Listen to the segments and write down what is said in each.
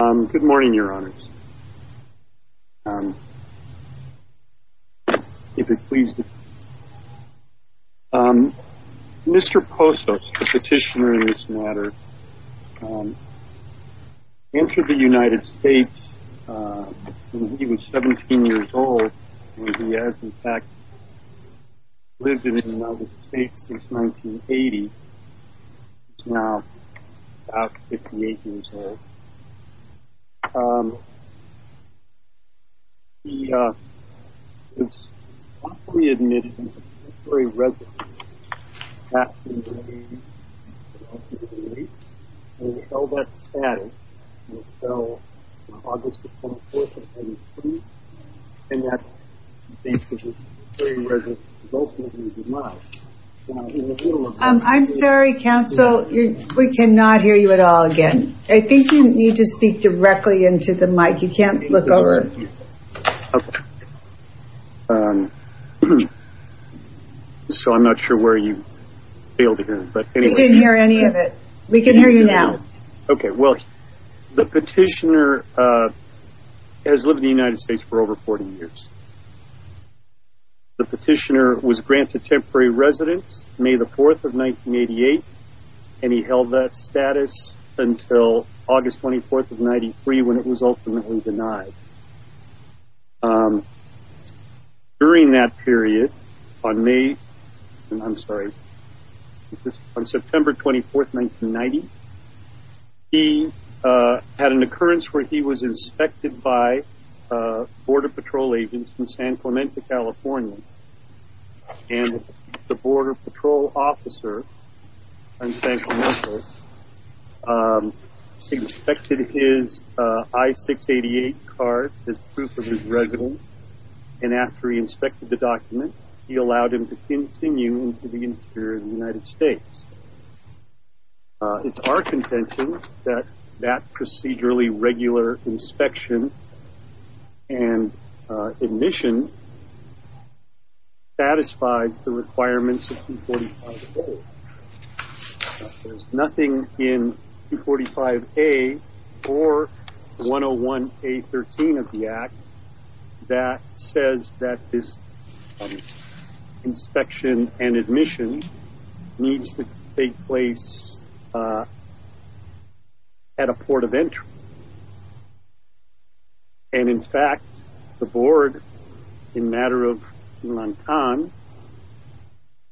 Mr. Posos, the petitioner in this matter, entered the United States when he was 17 years old, and he has, in fact, lived in the United States since 1980. He is now about 58 years old. He was pre-admitted as a military resident in 1988, and we know that status until August 24, 1982, and that he was a military resident for most of his life. I'm sorry, counsel, we cannot hear you at all again. I think you need to speak directly into the mic. You can't look over. So I'm not sure where you failed to hear me. We didn't hear any of it. We can hear you now. Okay, well, the petitioner has lived in the United States for over 40 years. The petitioner was granted temporary residence May 4, 1988, and he held that status until August 24, 1993, when it was ultimately denied. During that period, on September 24, 1990, he had an occurrence where he was inspected by Border Patrol agents in San Clemente, California. And the Border Patrol officer in San Clemente inspected his I-688 card as proof of his residence, and after he inspected the document, he allowed him to continue into the interior of the United States. It's our contention that that procedurally regular inspection and admission satisfies the requirements of 245A. There's nothing in 245A or 101A13 of the Act that says that this inspection and admission needs to take place at a port of entry. And in fact, the board, in matter of humankind,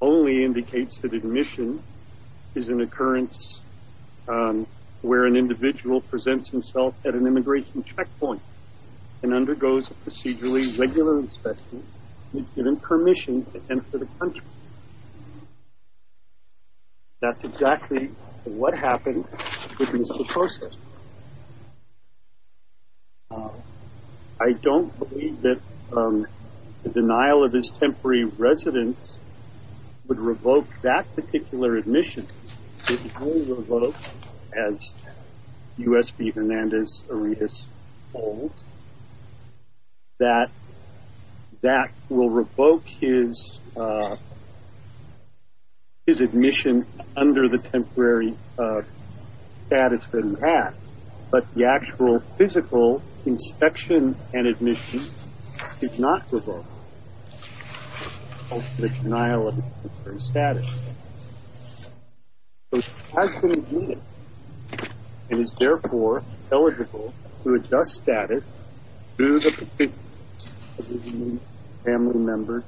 only indicates that admission is an occurrence where an individual presents himself at an immigration checkpoint and undergoes a procedurally regular inspection and is given permission to enter the country. That's exactly what happened with Mr. Costa. I don't believe that the denial of his temporary residence would revoke that particular admission. It will revoke, as U.S.B. Hernandez-Aredes holds, that that will revoke his admission under the temporary status that he had, but the actual physical inspection and admission did not revoke the denial of his temporary status. So he has been admitted, and is therefore eligible to adjust status to the provisions of the Family Member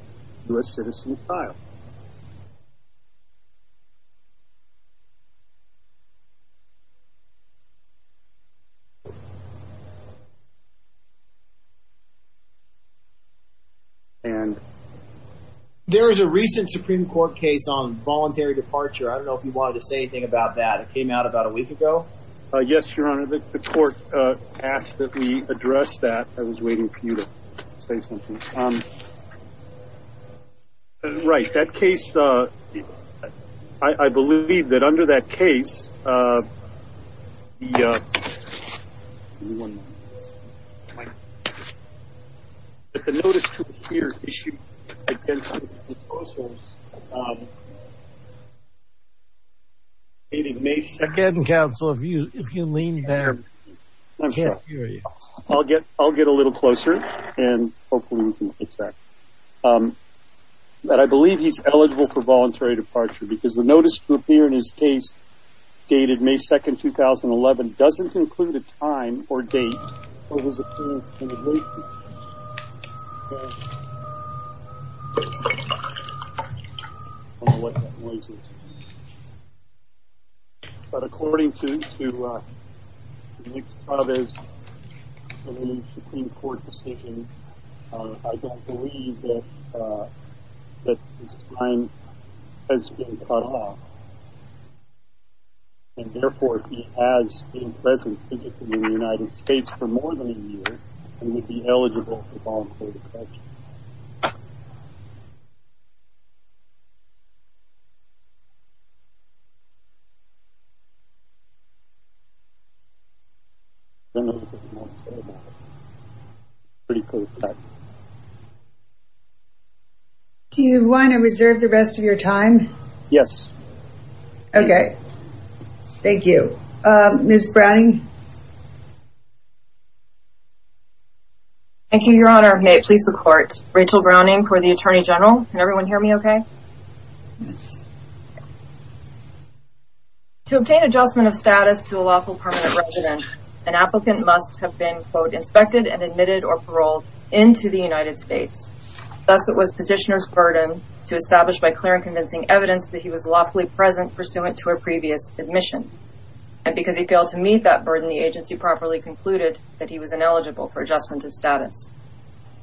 U.S. Citizen Trial. There is a recent Supreme Court case on voluntary departure. I don't know if you wanted to say anything about that. It came out about a week ago? Yes, Your Honor. The court asked that we address that. I was waiting for you to say something. Right. That case, I believe that under that case, the notice to appear issued against Mr. Costa dated May 2nd. I'm sorry. I'll get a little closer, and hopefully we can get back. But I believe he's eligible for voluntary departure, because the notice to appear in his case dated May 2nd, 2011, doesn't include a time or date. But according to Nick Chavez's Supreme Court decision, I don't believe that his time has been cut off. And therefore, if he has been present physically in the United States for more than a year, he would be eligible for voluntary departure. Do you want to reserve the rest of your time? Yes. Okay. Thank you. Ms. Browning? Thank you, Your Honor. May it please the Court, Rachel Browning for the Attorney General. Can everyone hear me okay? Yes. To obtain adjustment of status to a lawful permanent resident, an applicant must have been, quote, inspected and admitted or paroled into the United States. Thus, it was petitioner's burden to establish by clear and convincing evidence that he was lawfully present pursuant to a previous admission. And because he failed to meet that burden, the agency properly concluded that he was ineligible for adjustment of status.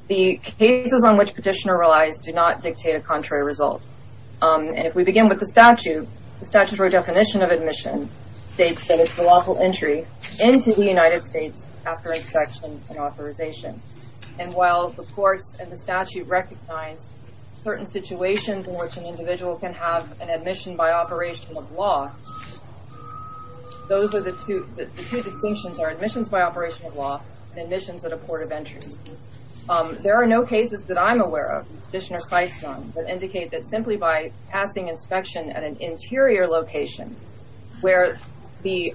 The cases on which petitioner relies do not dictate a contrary result. And if we begin with the statute, the statutory definition of admission states that it's a lawful entry into the United States after inspection and authorization. And while the courts and the statute recognize certain situations in which an individual can have an admission by operation of law, those are the two, the two distinctions are admissions by operation of law and admissions at a port of entry. There are no cases that I'm aware of, Petitioner cites none, that indicate that simply by passing inspection at an interior location, where the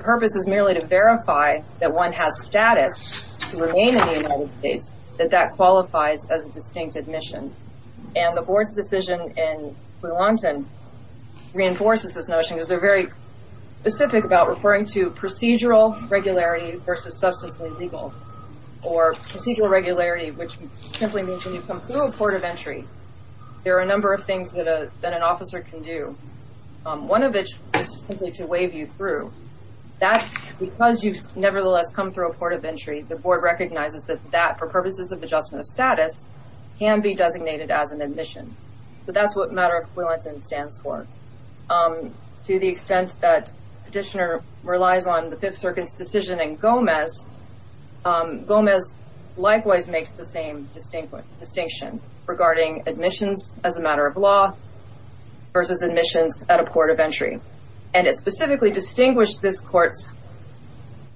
purpose is merely to verify that one has status to remain in the United States, that that qualifies as a distinct admission. And the board's decision in Bluonton reinforces this notion because they're very specific about referring to procedural regularity versus substantially legal. Or procedural regularity, which simply means when you come through a port of entry, there are a number of things that an officer can do. One of which is simply to wave you through that because you've nevertheless come through a port of entry, the board recognizes that that for purposes of adjustment of status can be designated as an admission. But that's what matter of Bluonton stands for. To the extent that Petitioner relies on the Fifth Circuit's decision in Gomez, Gomez likewise makes the same distinction regarding admissions as a matter of law versus admissions at a port of entry. And it specifically distinguished this court's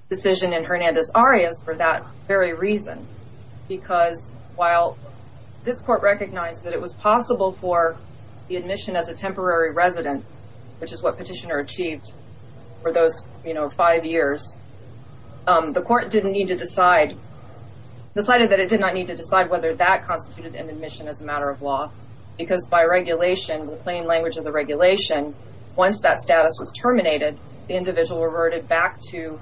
decision in Hernandez-Arias for that very reason. Because while this court recognized that it was possible for the admission as a temporary resident, which is what Petitioner achieved for those five years, the court decided that it did not need to decide whether that constituted an admission as a matter of law. Because by regulation, the plain language of the regulation, once that status was terminated, the individual reverted back to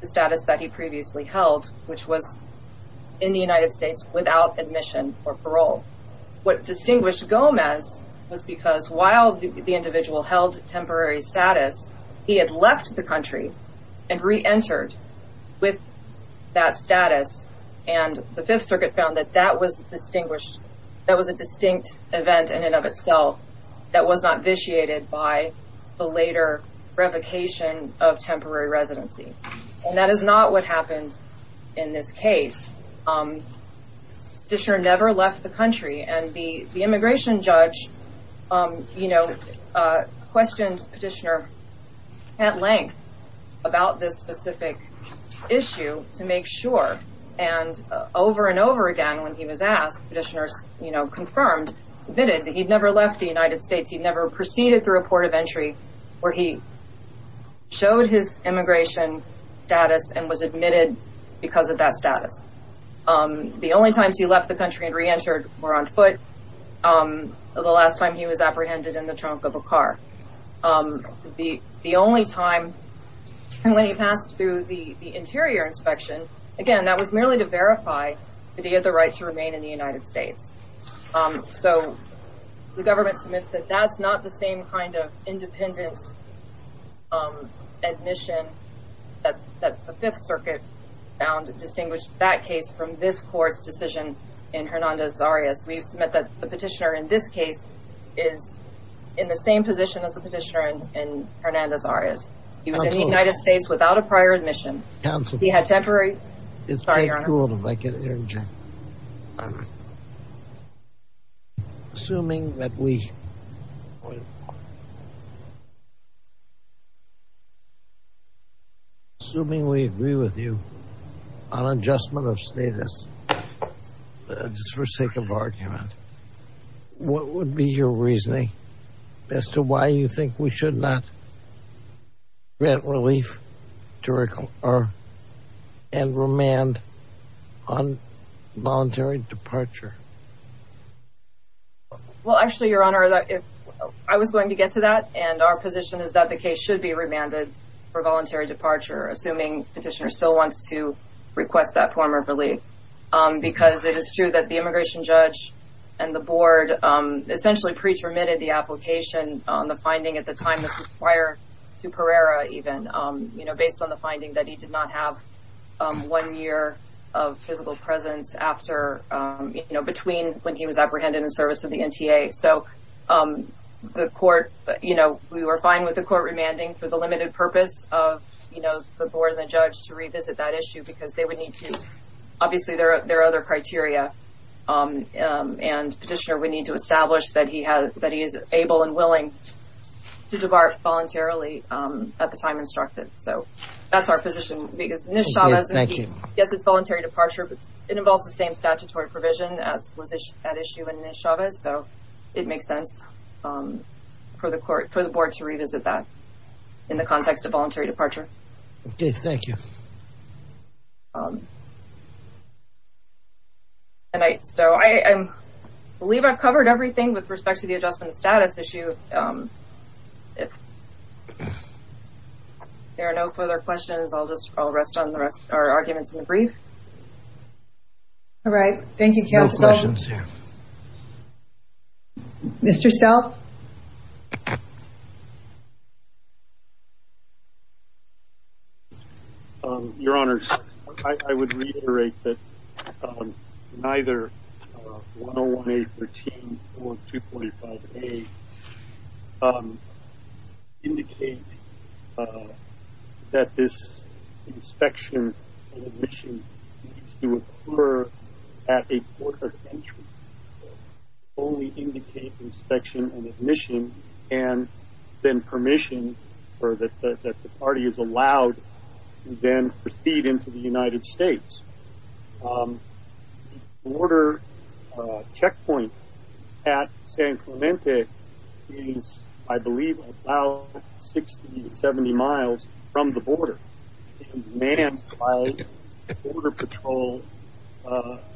the status that he previously held, which was in the United States without admission or parole. What distinguished Gomez was because while the individual held temporary status, he had left the country and re-entered with that status. And the Fifth Circuit found that that was a distinct event in and of itself that was not vitiated by the later revocation of temporary residency. And that is not what happened in this case. Petitioner never left the country. And the immigration judge, you know, questioned Petitioner at length about this specific issue to make sure. And over and over again when he was asked, Petitioner, you know, confirmed, admitted that he'd never left the United States. He'd never proceeded through a port of entry where he showed his immigration status and was admitted because of that status. The only times he left the country and re-entered were on foot, the last time he was apprehended in the trunk of a car. The only time when he passed through the interior inspection, again, that was merely to verify that he had the right to remain in the United States. So the government submits that that's not the same kind of independent admission that the Fifth Circuit found distinguished that case from this court's decision in Hernandez-Arias. We've submit that the Petitioner in this case is in the same position as the Petitioner in Hernandez-Arias. He was in the United States without a prior admission. He had temporary. Sorry, Your Honor. Assuming that we Assuming we agree with you on adjustment of status, just for sake of argument, what would be your reasoning as to why you think we should not grant relief and remand on voluntary departure? Well, actually, Your Honor, I was going to get to that, and our position is that the case should be remanded for voluntary departure, assuming Petitioner still wants to request that form of relief. Because it is true that the immigration judge and the board essentially pre-terminated the application on the finding at the time prior to Pereira even, you know, based on the finding that he did not have one year of physical presence after, you know, between when he was apprehended in service of the NTA. So the court, you know, we were fine with the court remanding for the limited purpose of, you know, the board and the judge to revisit that issue because they would need to, obviously, there are other criteria, and Petitioner would need to establish that he is able and willing to depart voluntarily at the time instructed. So that's our position. Yes, it's voluntary departure, but it involves the same statutory provision as was at issue in Chavez, so it makes sense for the board to revisit that in the context of voluntary departure. Okay, thank you. I believe I've covered everything with respect to the adjustment of status issue. If there are no further questions, I'll just rest on the rest of our arguments in the brief. All right. Thank you, counsel. No questions here. Mr. Self? Your Honors, I would reiterate that neither 101A, 13, or 245A indicate that this inspection and admission needs to occur at a border entry. They only indicate inspection and admission and then permission that the party is allowed to then proceed into the United States. The border checkpoint at San Clemente is, I believe, about 60 to 70 miles from the border. It is manned by border patrol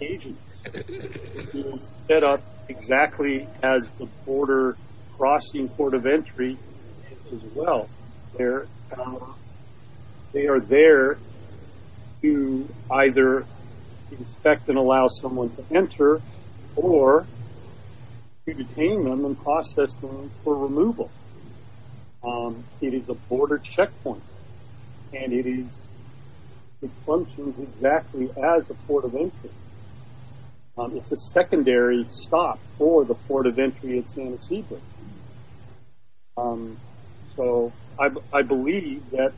agents. It is set up exactly as the border crossing port of entry is as well. They are there to either inspect and allow someone to enter or to detain them and process them for removal. It is a border checkpoint, and it functions exactly as a port of entry. It's a secondary stop for the port of entry at San Ysidro. So I believe that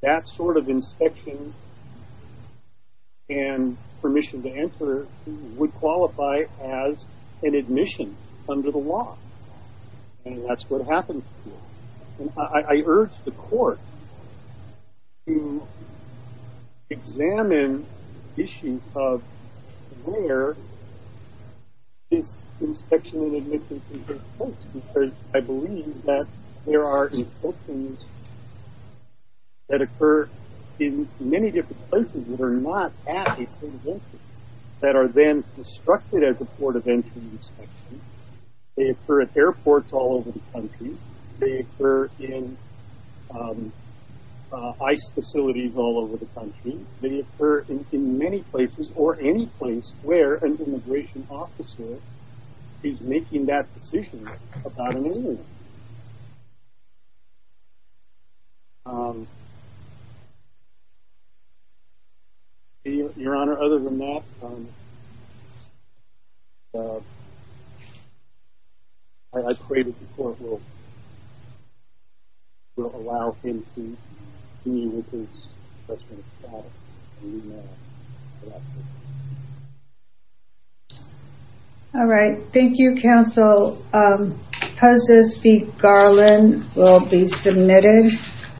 that sort of inspection and permission to enter would qualify as an admission under the law. And that's what happens here. I urge the court to examine issues of where this inspection and admission can take place, because I believe that there are inspections that occur in many different places that are not at a port of entry, that are then constructed as a port of entry inspection. They occur at airports all over the country. They occur in ICE facilities all over the country. They occur in many places or any place where an immigration officer is making that decision about an immigrant. Your Honor, other than that, I pray that the court will allow him to continue with his questioning. Thank you, Your Honor.